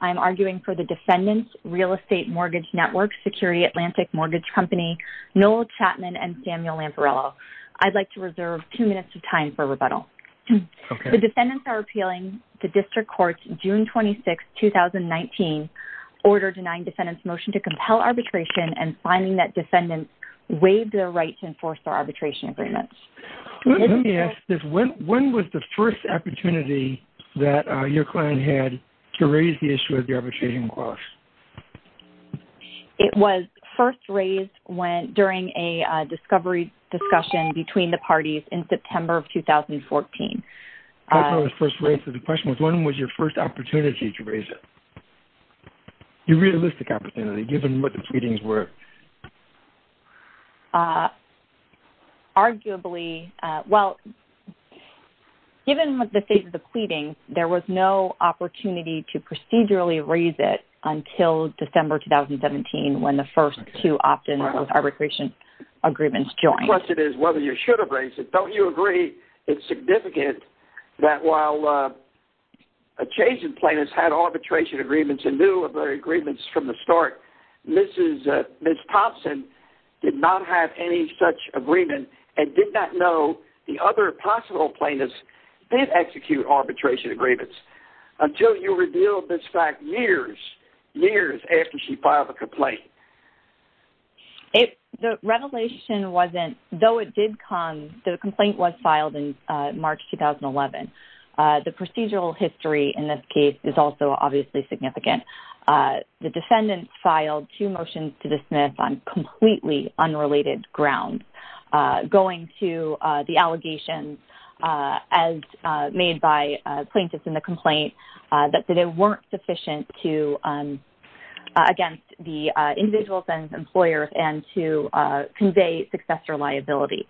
I'm arguing for the defendants, Real Estate Mortgage Network, Security Atlantic Mortgage Company, Noel Chapman and Samuel Lamparello. I'd like to reserve two minutes of time for rebuttal. The defendants are appealing to district courts June 26, 2019, order denying defendants motion to compel arbitration and finding that defendants waived their right to enforce their arbitration agreements. Let me ask this. When was the first opportunity that your client had to raise the issue of the arbitration clause? It was first raised during a discovery discussion between the parties in September of 2014. That was the first raise. So the question was when was your first opportunity to raise it? Your realistic opportunity given what the pleadings were? Arguably, well, given the state of the pleading, there was no opportunity to procedurally raise it until December 2017 when the first two options of arbitration agreements joined. The question is whether you should have raised it. Don't you agree it's significant that while adjacent plaintiffs had arbitration agreements and knew of their agreements from the start, Ms. Thompson did not have any such agreement and did not know the other possible plaintiffs did execute arbitration agreements until you revealed this fact years, years after she filed the complaint? The revelation wasn't, though it did come, the complaint was filed in March 2011. The defendants filed two motions to dismiss on completely unrelated grounds going to the allegations as made by plaintiffs in the complaint that they weren't sufficient against the individuals and employers and to convey successor liability.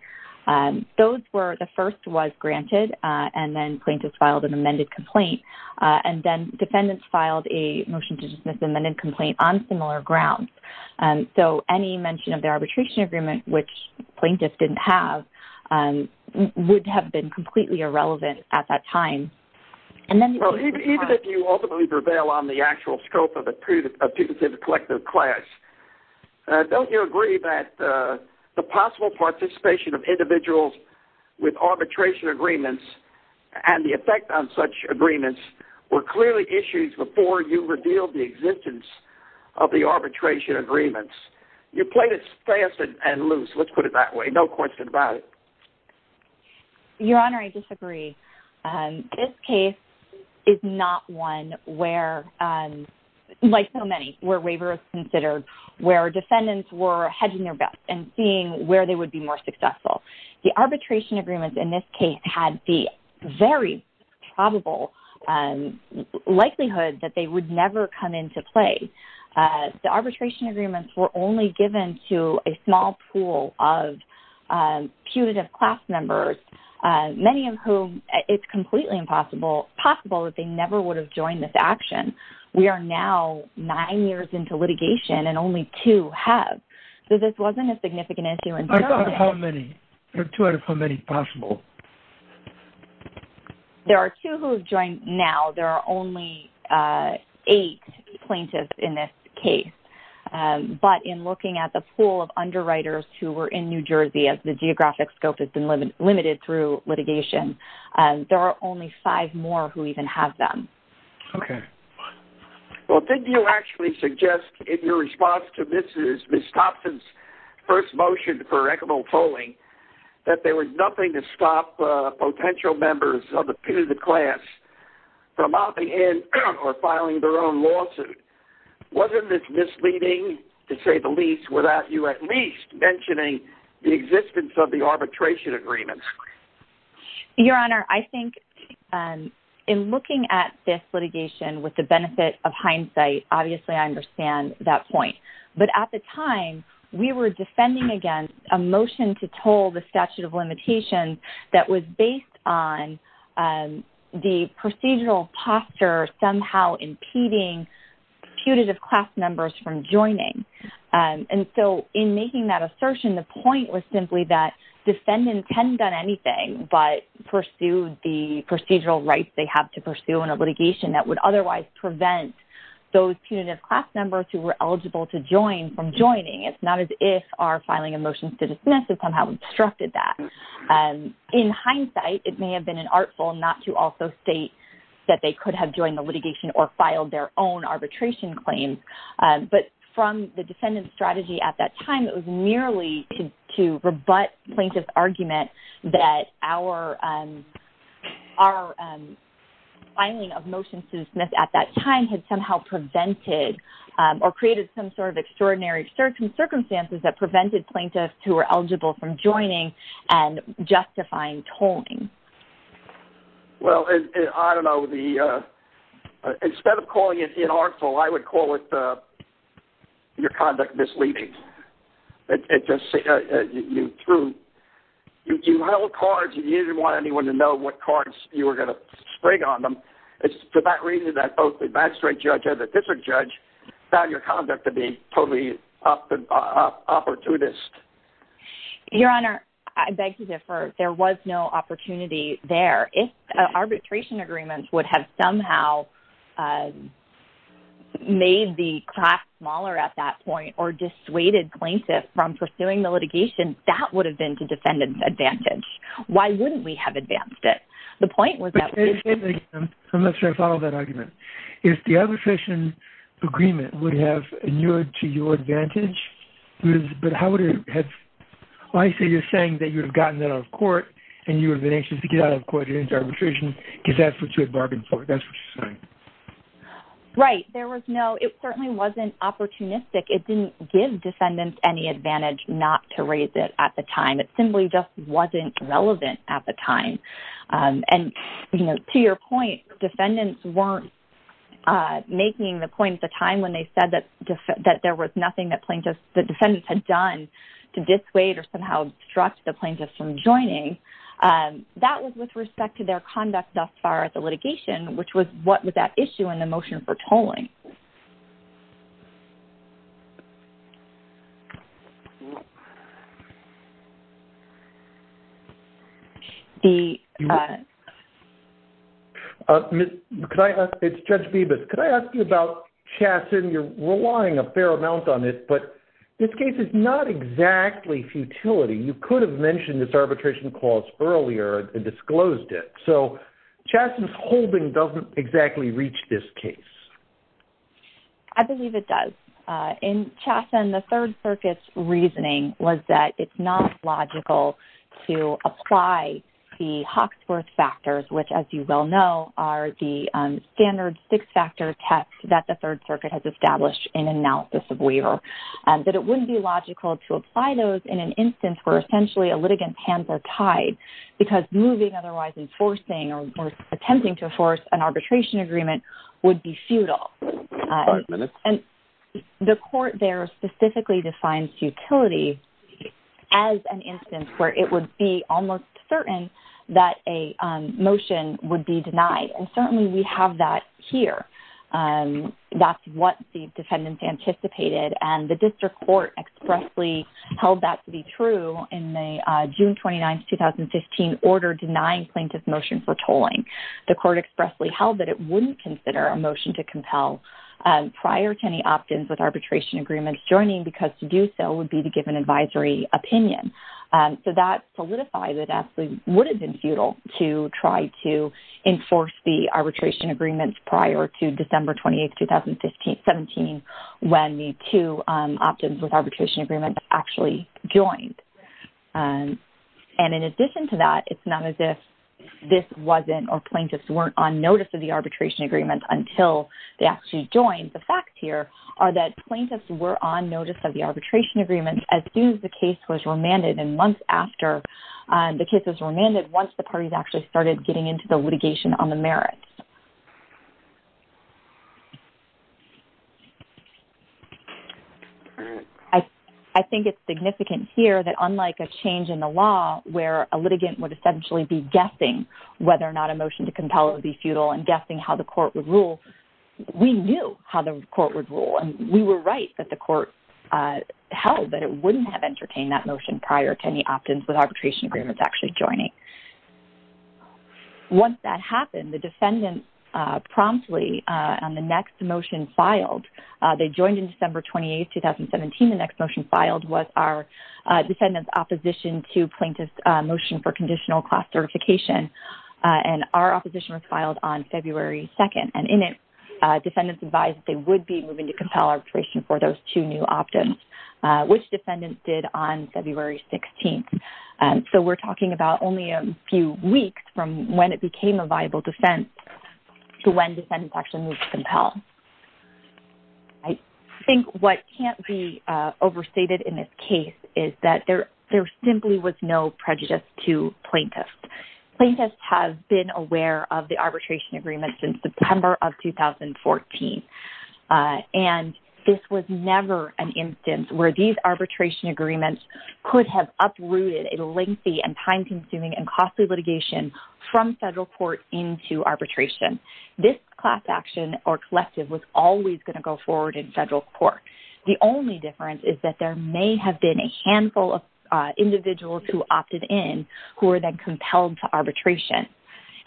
The first was granted and then plaintiffs filed an amended complaint and then defendants filed a motion to dismiss an amended complaint on similar grounds. So any mention of the arbitration agreement, which plaintiffs didn't have, would have been completely irrelevant at that time. And then even if you ultimately prevail on the actual scope of a punitive collective class, don't you agree that the possible participation of individuals with arbitration agreements and the effect on such agreements were clearly issues before you revealed the existence of the arbitration agreements? You played it fast and loose, let's put it that way, no question about it. Your Honor, I disagree. This case is not one where, like so many, where waiver is considered, where defendants were hedging their bets and seeing where they would be more successful. The arbitration agreements in this case had the very probable likelihood that they would never come into play. The arbitration agreements were only given to a small pool of punitive class members, many of whom, it's completely impossible, possible that they never would have joined this action. We are now nine years into litigation and only two have. So this wasn't a significant issue in terms of... I thought of how many, or two out of how many possible. There are two who have joined now. There are only eight plaintiffs in this case. But in looking at the pool of underwriters who were in New Jersey, as the geographic scope has been limited through litigation, there are only five more who even have them. Okay. Well, didn't you actually suggest in your response to Mrs. Thompson's first motion for equitable tolling that there was nothing to stop potential members of the punitive class from opting in or filing their own lawsuit? Wasn't this misleading, to say the least, without you at least mentioning the existence of the arbitration agreements? Your Honor, I think in looking at this litigation with the benefit of hindsight, obviously I understand that point. But at the time, we were defending against a motion to toll the statute of limitations that was based on the procedural posture somehow impeding punitive class members from joining. And so in making that assertion, the point was simply that defendants hadn't done anything but pursued the procedural rights they have to pursue in a litigation that would otherwise prevent those punitive class members who were eligible to join from joining. It's not as if our filing a motion to dismiss has somehow obstructed that. In hindsight, it may have been an artful not to also state that they could have joined the litigation or filed their own arbitration claims. But from the defendant's strategy at that time, it was merely to rebut plaintiff's argument that our filing of motion to dismiss at that time had somehow prevented or created some sort of extraordinary circumstances that prevented plaintiffs who were eligible from joining and justifying tolling. Well, I don't know. Instead of calling it inartful, I would call it your conduct misleading. It just seems true. You held cards. You didn't want anyone to know what cards you were going to spring on them. It's for that reason that both the backstreet judge and the district judge found your conduct to be totally opportunist. Your Honor, I beg to differ. There was no opportunity there. Arbitration agreements would have somehow made the craft smaller at that point or dissuaded plaintiffs from pursuing the litigation. That would have been to defendant's advantage. Why wouldn't we have advanced it? The point was that... I'm not sure I follow that argument. If the arbitration agreement would have inured to your advantage, but how would it have... I see you're saying that you've gotten that out of court and you have been anxious to get out of court and into arbitration because that's what you had bargained for. That's what you're saying. Right. There was no... It certainly wasn't opportunistic. It didn't give defendants any advantage not to raise it at the time. It simply just wasn't relevant at the time. To your point, defendants weren't making the point at the time when they said that there was nothing that the defendants had done to dissuade or somehow obstruct the plaintiffs from joining. That was with respect to their conduct thus far at the litigation, which was what was at issue in the motion for tolling. It's Judge Bibas. Could I ask you about Chaston? You're relying a fair amount on it, but this case is not exactly futility. You could have mentioned this arbitration clause earlier and disclosed it. Chaston's holding doesn't exactly reach this case. I believe it does. In Chaston, the Third Circuit's reasoning was that it's not logical to apply the Hawksworth factors, which as you well know, are the standard six-factor test that the Third Circuit uses, that it wouldn't be logical to apply those in an instance where essentially a litigant's hands are tied because moving, otherwise enforcing or attempting to enforce an arbitration agreement would be futile. The court there specifically defines futility as an instance where it would be almost certain that a motion would be denied. Certainly, we have that here. That's what the defendants anticipated. The district court expressly held that to be true in the June 29, 2015 order denying plaintiff's motion for tolling. The court expressly held that it wouldn't consider a motion to compel prior to any opt-ins with arbitration agreements joining because to do so would be to give an advisory opinion. That solidifies it absolutely would prior to December 28, 2017 when the two opt-ins with arbitration agreements actually joined. In addition to that, it's not as if this wasn't or plaintiffs weren't on notice of the arbitration agreement until they actually joined. The fact here are that plaintiffs were on notice of the arbitration agreement as soon as the case was remanded and months after the case was remanded, once the parties actually started getting into the litigation on the merits. I think it's significant here that unlike a change in the law where a litigant would essentially be guessing whether or not a motion to compel would be futile and guessing how the court would rule, we knew how the court would rule. We were right that the court held that it wouldn't have entertained that motion prior to any opt-ins with arbitration agreements actually joining. Once that happened, the defendants promptly on the next motion filed, they joined in December 28, 2017. The next motion filed was our defendant's opposition to plaintiff's motion for conditional class certification and our opposition was filed on February 2nd. In it, defendants advised that they would be moving to compel arbitration for those two new opt-ins, which defendants did on February 16th. We're talking about only a few weeks from when it became a viable defense to when defendants actually moved to compel. I think what can't be overstated in this case is that there simply was no prejudice to plaintiffs. Plaintiffs have been aware of the arbitration agreement since September of 2014, and this was never an instance where these arbitration agreements could have uprooted a lengthy and time-consuming and costly litigation from federal court into arbitration. This class action or collective was always going to go forward in federal court. The only difference is that there may have been a handful of individuals who opted in who were then compelled to arbitration.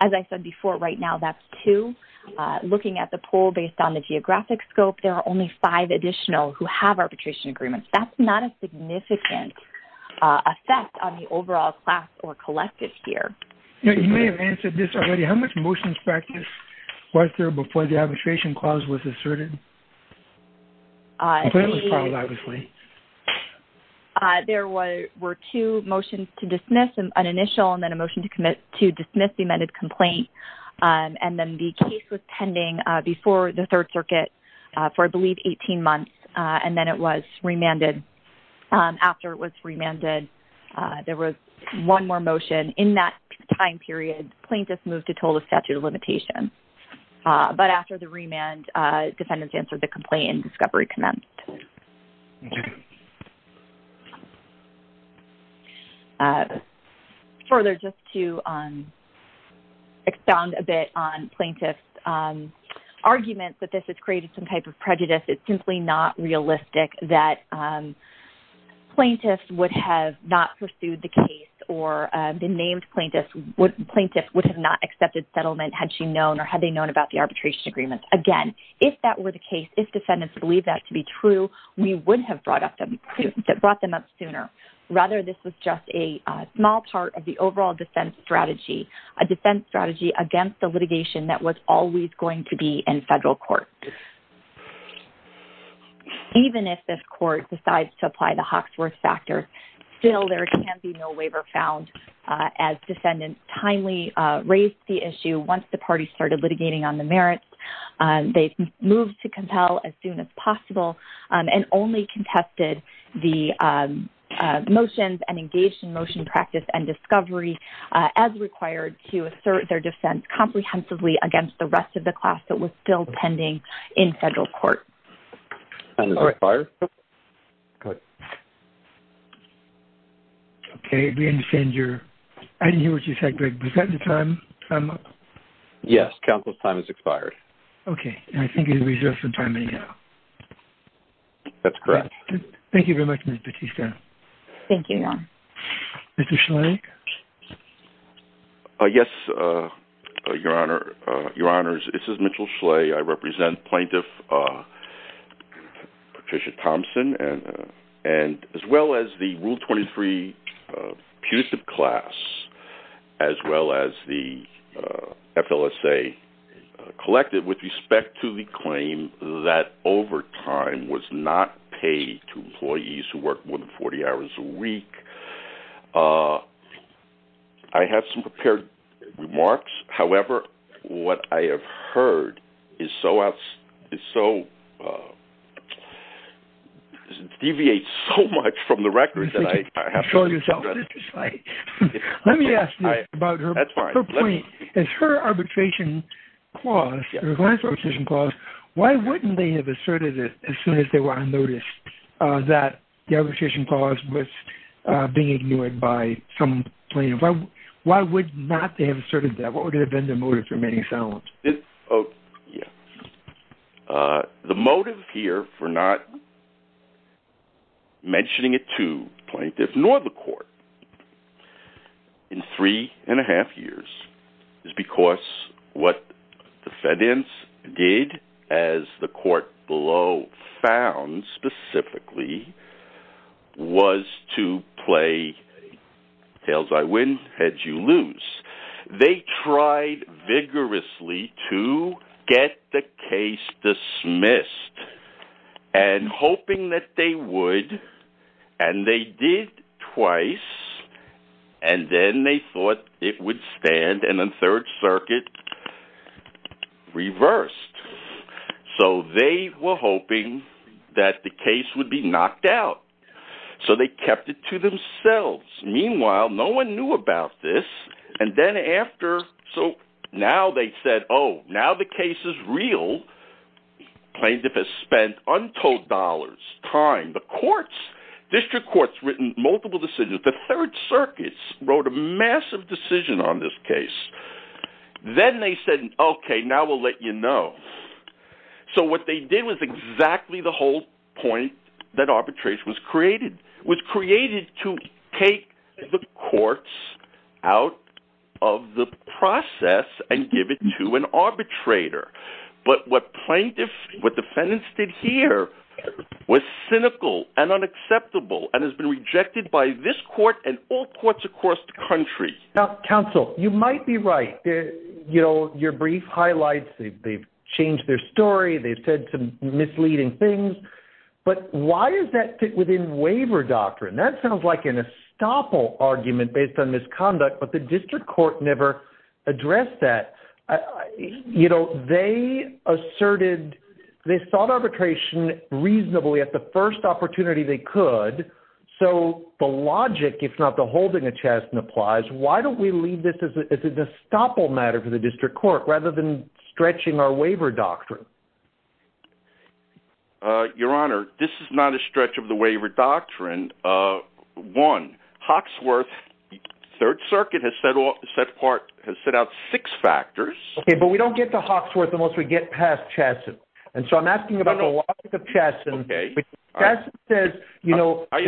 As I said before, right now, that's two. Looking at the poll based on the geographic scope, there are only five additional who have arbitration agreements. That's not a overall class or collective here. You may have answered this already. How much motions practice was there before the arbitration clause was asserted? There were two motions to dismiss, an initial and then a motion to dismiss the amended complaint, and then the case was pending before the Third Circuit for, I believe, 18 months, and then it was remanded. After it was remanded, there was one more motion. In that time period, plaintiffs moved to total statute of limitation, but after the remand, defendants answered the complaint and discovery commenced. Further, just to expound a bit on plaintiffs' arguments that this has created some type of realistic that plaintiffs would have not pursued the case or the named plaintiffs would have not accepted settlement had she known or had they known about the arbitration agreement. Again, if that were the case, if defendants believed that to be true, we would have brought them up sooner. Rather, this was just a small part of the overall defense strategy, a defense strategy against the litigation that was always going to be in federal court. Even if this court decides to apply the Hawksworth factor, still there can be no waiver found as defendants timely raised the issue once the parties started litigating on the merits. They moved to compel as soon as possible and only contested the motions and engaged in motion practice and discovery as required to assert their defense comprehensively against the rest of the court. I didn't hear what you said, Greg. Is that the time? Yes. Counsel's time has expired. Okay. And I think you have reserved some time anyhow. That's correct. Thank you very much, Ms. Batista. Thank you, Ron. Mr. Schley? Yes, Your Honor. Your Honors, this is Mitchell Schley. I represent Plaintiff Patricia Thompson and as well as the Rule 23 putative class, as well as the FLSA collective with respect to the claim that overtime was not paid to employees who work more than 40 hours a week. I have some prepared remarks. However, what I have heard is so deviate so much from the record that I have to- Show yourself, Mr. Schley. Let me ask you about her point. As her arbitration clause, her last arbitration clause, why wouldn't they have asserted it as soon as they were on notice that the arbitration clause was being ignored by some plaintiff? Why would not they have asserted that? What would have been the motive for remaining silent? The motive here for not mentioning it to plaintiffs nor the court in three and a half years is because what the defendants did, as the court below found specifically, was to play tails I win, heads you lose. They tried vigorously to get the case dismissed and hoping that they would, and they did twice, and then they thought it would stand and then third circuit reversed. So they were hoping that the case would be knocked out. So they kept it to themselves. Meanwhile, no one knew about this. And then after, so now they said, oh, now the case is real. Plaintiff has spent untold dollars, time, the courts, district courts, written multiple decisions. The third circuits wrote a massive decision on this case. Then they said, okay, now we'll let you know. So what they did was exactly the whole point that arbitration was created, was created to take the courts out of the process and give it to an arbitrator. But what plaintiffs, what defendants did here was cynical and unacceptable and has been rejected by this court and all courts across the country. Now, counsel, you might be right. You know, your brief highlights, they've changed their story. They've said some misleading things, but why is that fit within waiver doctrine? That sounds like an estoppel argument based on misconduct, but the district court never addressed that. You know, they asserted, they thought arbitration reasonably at the first opportunity they could. So the logic, if not the holding a chest and applies, why don't we leave this as an estoppel matter for district court rather than stretching our waiver doctrine? Uh, your honor, this is not a stretch of the waiver doctrine. Uh, one Hawksworth third circuit has said all set part has set out six factors, but we don't get to Hawksworth unless we get past Chaston. And so I'm asking about the logic of Chaston says, you know, I'll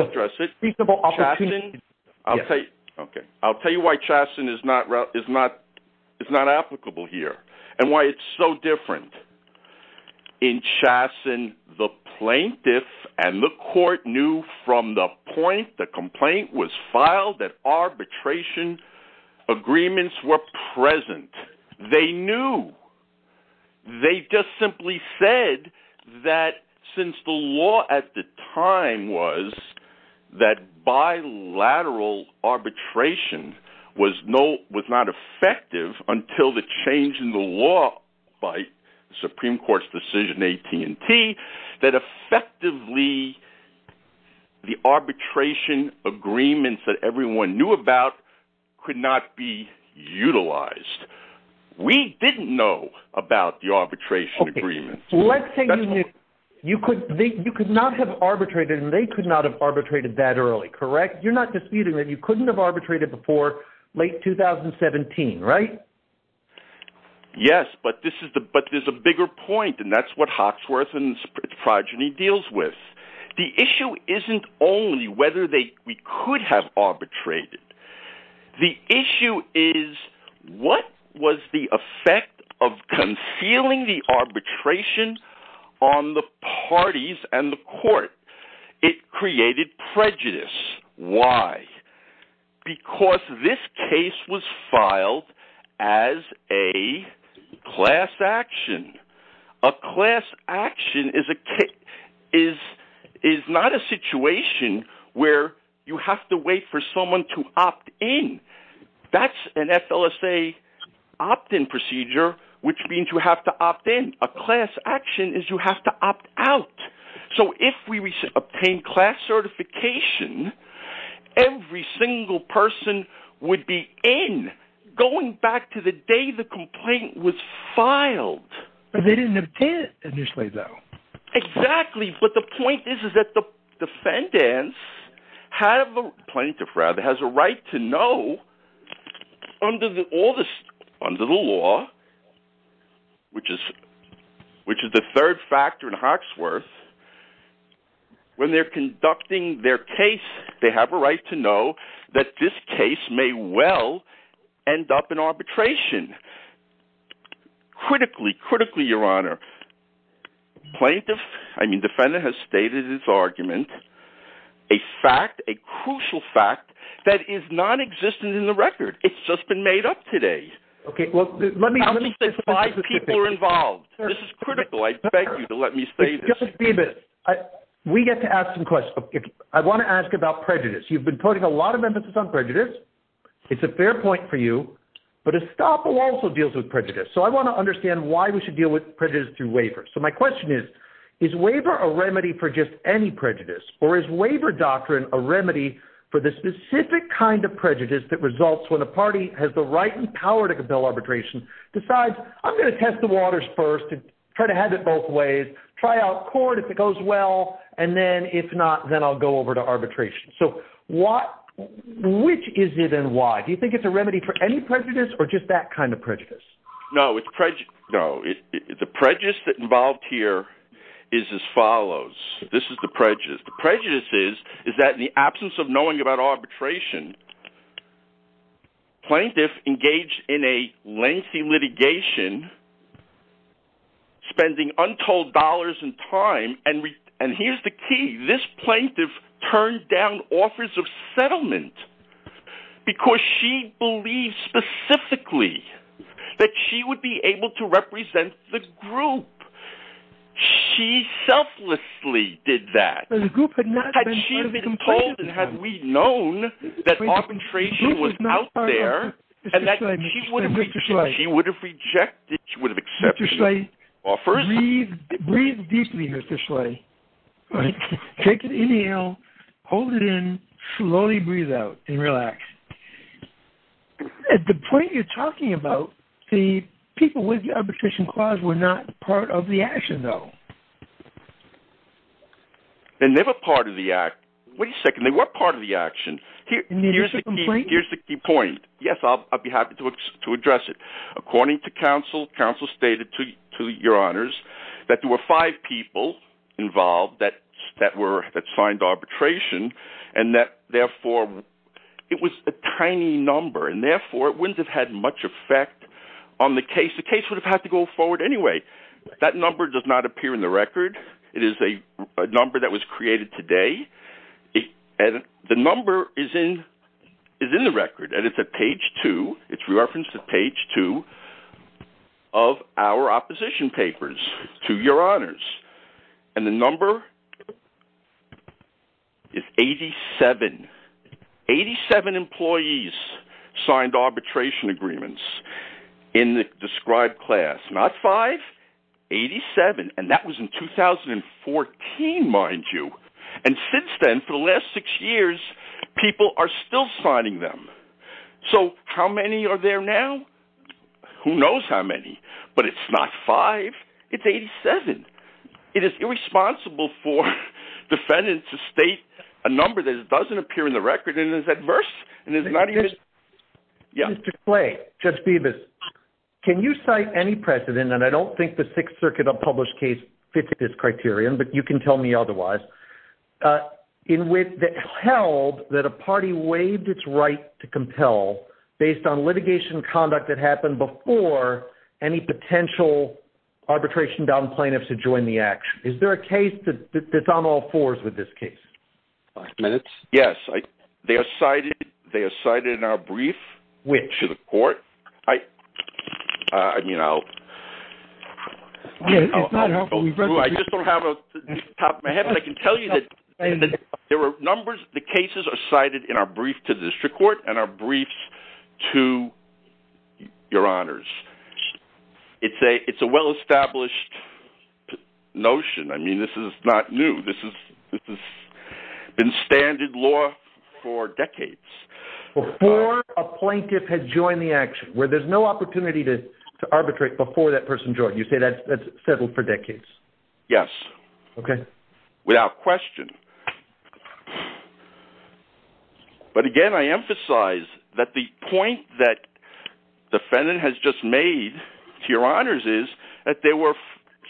address it. Chaston. Okay. Okay. I'll tell you why Chaston is not route is not, it's not applicable here and why it's so different in Chaston, the plaintiff and the court knew from the point, the complaint was filed that arbitration agreements were present. They knew they just simply said that since the law at the time was that bilateral arbitration was no, was not effective until the change in the law by Supreme court's decision, AT and T that effectively the arbitration agreements that everyone knew about could not be utilized. We didn't know about the arbitration agreement. Let's say you could think you could not have arbitrated and they could not have arbitrated that early. Correct. You're not disputing that you couldn't have arbitrated before late 2017, right? Yes, but this is the, but there's a bigger point and that's what Hawksworth and progeny deals with. The issue isn't only whether they, we could have arbitrated. The issue is what was the effect of concealing the arbitration on the parties and the court. It created prejudice. Why? Because this case was filed as a class action. A class action is a kick is, is not a situation where you have to wait for someone to opt in. That's an FLSA opt in procedure, which means you have to opt in a class action is you have to opt out. So if we obtain class certification, every single person would be in going back to the day the complaint was filed. But they didn't obtain it initially though. Exactly. But the point is, is that the defendants have a plaintiff rather has a right to know under the oldest under the law, which is, which is the third factor in Hawksworth. When they're conducting their case, they have a right to know that this case may well end up in arbitration. Critically, critically, your honor plaintiff. I mean, defendant has stated his argument, a fact, a crucial fact that is non-existent in the record. It's just been made up today. Okay. Well, let me, let me say five people are involved. This is critical. I beg you to let me say this. We get to ask some questions. I want to ask about prejudice. You've been putting a lot of emphasis on prejudice. It's a fair point for you, but Estoppo also deals with prejudice. So I want to understand why we should deal with prejudice through waivers. So my question is, is waiver a remedy for just any prejudice or is waiver doctrine, a remedy for this specific kind of prejudice that results when the party has the right and power to compel arbitration decides I'm going to have it both ways, try out court if it goes well, and then if not, then I'll go over to arbitration. So what, which is it and why do you think it's a remedy for any prejudice or just that kind of prejudice? No, it's prejudice. No, it's the prejudice that involved here is as follows. This is the prejudice. The prejudice is, is that in the absence of knowing about arbitration, plaintiff engaged in a lengthy litigation, spending untold dollars and time. And here's the key. This plaintiff turned down offers of settlement because she believes specifically that she would be able to represent the group. She selflessly did that. Had she been told, and had we known that arbitration was out there and that she would have rejected, she would have accepted offers. Take an inhale, hold it in, slowly breathe out and relax. At the point you're talking about, the people with the arbitration clause were not part of the action though. They're never part of the act. Wait a second. They were part of the action. Here's the key point. Yes, I'll be happy to address it. According to counsel, counsel stated to your honors that there were five people involved that were, that signed arbitration and that therefore it was a tiny number and therefore it wouldn't have had much effect on the case. The case would have had to go forward anyway. That number does not appear in the record. It is a number that was created today. And the number is in, is in the record and it's at page two. It's referenced to page two of our opposition papers to your honors. And the number is 87. 87 employees signed arbitration agreements in the described class. Not five, 87. And that was in 2014, mind you. And since then, for the last six years, people are still signing them. So how many are there now? Who knows how many, but it's not five, it's 87. It is irresponsible for defendants to state a number that doesn't appear in the record and is adverse and is not even... Mr. Clay, Judge Bevis, can you cite any precedent, and I don't think the Sixth Circuit published case fits this criterion, but you can tell me otherwise, in which it held that a party waived its right to compel based on litigation conduct that happened before any potential arbitration downed plaintiffs to join the action. Is there a case that's on all fours with this case? Five minutes. Yes. They are cited in our brief. Which? To the court. I mean, I'll... I just don't have a top of my head, but I can tell you that there were numbers, the cases are cited in our brief to the district court and our briefs to your honors. It's a well-established notion. I mean, this is not new. This has been standard law for decades. Before a plaintiff had joined the action, where there's no opportunity to arbitrate before that person joined, you say that's settled for decades? Yes. Okay. Without question. But again, I emphasize that the point that the defendant has just made to your honors is that there were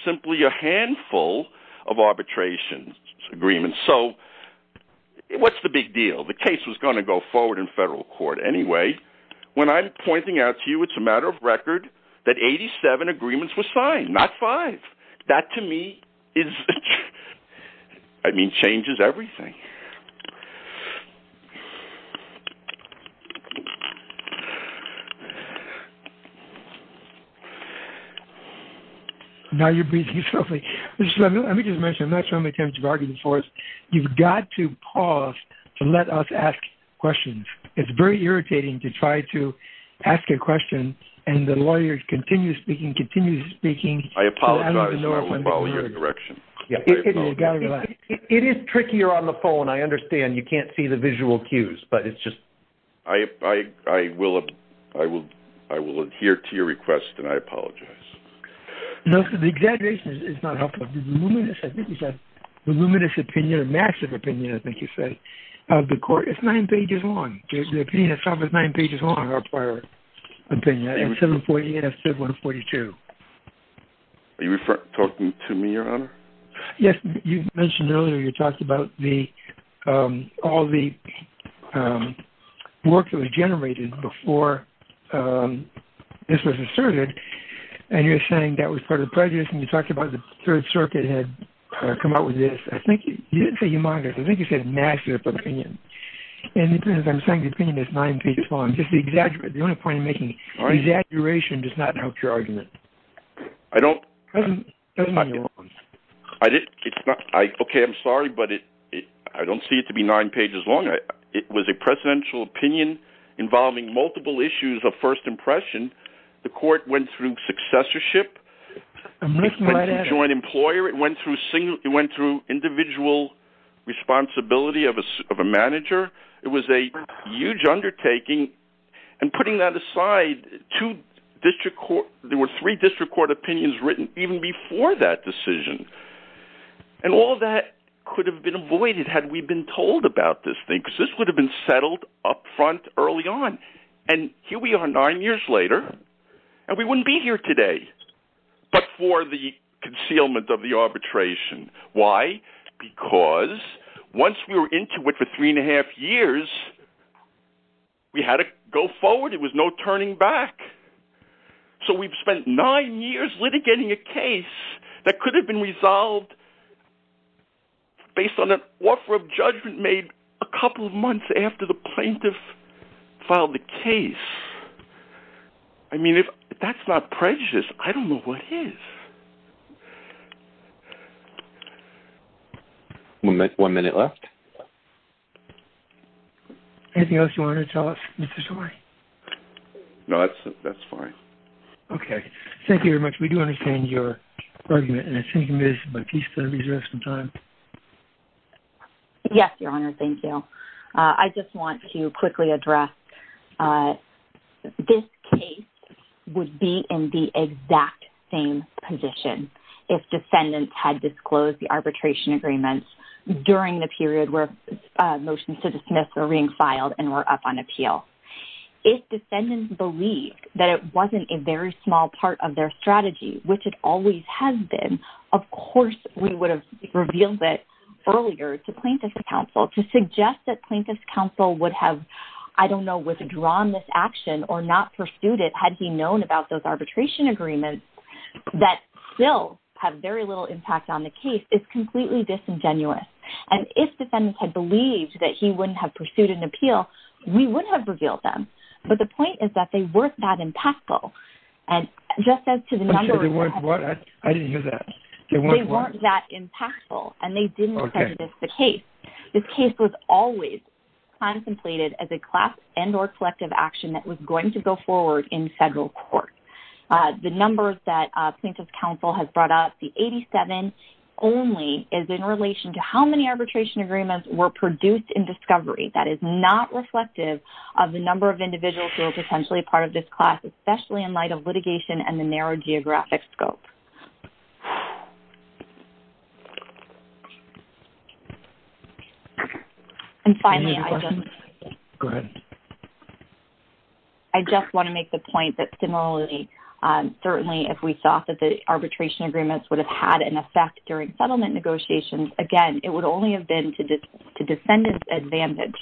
simply a handful of arbitration agreements. So what's the big deal? The case was going to go forward in federal court anyway. When I'm pointing out to you, it's a matter of record that 87 agreements were signed, not five. That, to me, is... I mean, change of everything. Now you're breathing slowly. Let me just mention, I'm not sure how many times you've argued this for us. You've got to pause to let us ask questions. It's very irritating to try to ask a question and the lawyer continues speaking, continues speaking. I apologize for following your direction. It is trickier on the phone, I understand. You can't see the visual cues, but it's just... I will adhere to your request and I apologize. No, the exaggeration is not helpful. The luminous opinion, the massive opinion, I think you said, the court is nine pages long. The opinion itself is nine pages long, our prior opinion. I have 740 and I have 742. Are you talking to me, your honor? Yes. You mentioned earlier, you talked about all the work that was generated before this was asserted and you're saying that was part of the prejudice and you talked about the third circuit had come out with this. I think you didn't say humongous. I think you said massive opinion. And as I'm saying, the opinion is nine pages long. Just the exaggeration, the only point I'm making, the exaggeration does not help your argument. Okay. I'm sorry, but I don't see it to be nine pages long. It was a presidential opinion involving multiple issues of first impression. The court went through successorship, a joint employer. It went through individual responsibility of a manager. It was a huge undertaking and putting that aside, there were three district court opinions written even before that decision. And all of that could have been avoided had we been told about this thing, because this would have been settled upfront early on. And here we are nine years later and we wouldn't be here today, but for the concealment of the arbitration. Why? Because once we were into it for three and a half years, we had to go forward. It was no turning back. So we've spent nine years litigating a case that could have been resolved based on an offer of judgment made a couple of months after the plaintiff filed the case. I mean, if that's not prejudiced, I don't know what is. One minute left. Anything else you want to tell us, Mr. Story? No, that's fine. Okay. Thank you very much. We do understand your argument and I think, Ms. Batista, we have some time. Yes, Your Honor. Thank you. I just want to quickly address this case would be in the exact same position if defendants had disclosed the arbitration agreements during the period where motions to dismiss were being filed and were up on appeal. If defendants believe that it wasn't a very small part of their strategy, which it always has been, of course we would have revealed earlier to plaintiff's counsel to suggest that plaintiff's counsel would have, I don't know, withdrawn this action or not pursued it had he known about those arbitration agreements that still have very little impact on the case. It's completely disingenuous. And if defendants had believed that he wouldn't have pursued an appeal, we would have revealed them. But the point is that they weren't that impactful. And just as to the number of... They weren't what? I didn't hear that. They weren't that impactful and they didn't present this case. This case was always contemplated as a class and or collective action that was going to go forward in federal court. The numbers that plaintiff's counsel has brought up, the 87 only is in relation to how many arbitration agreements were produced in discovery. That is not reflective of the number of individuals who are potentially part of this class, especially in light of litigation and the narrow geographic scope. And finally, I just want to make the point that similarly, certainly, if we thought that the arbitration agreements would have had an effect during settlement negotiations, again, it would only have been to defendant's advantage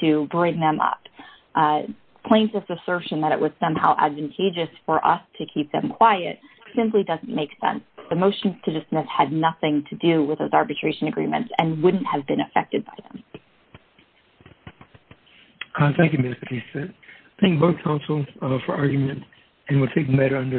to bring them up. Plaintiff's assertion that it was somehow advantageous for us to keep them quiet simply doesn't make sense. The motion to dismiss had nothing to do with those arbitration agreements and wouldn't have been affected by them. Thank you, Ms. Batista. Thank both counsels for arguments and we'll take them later under advisement.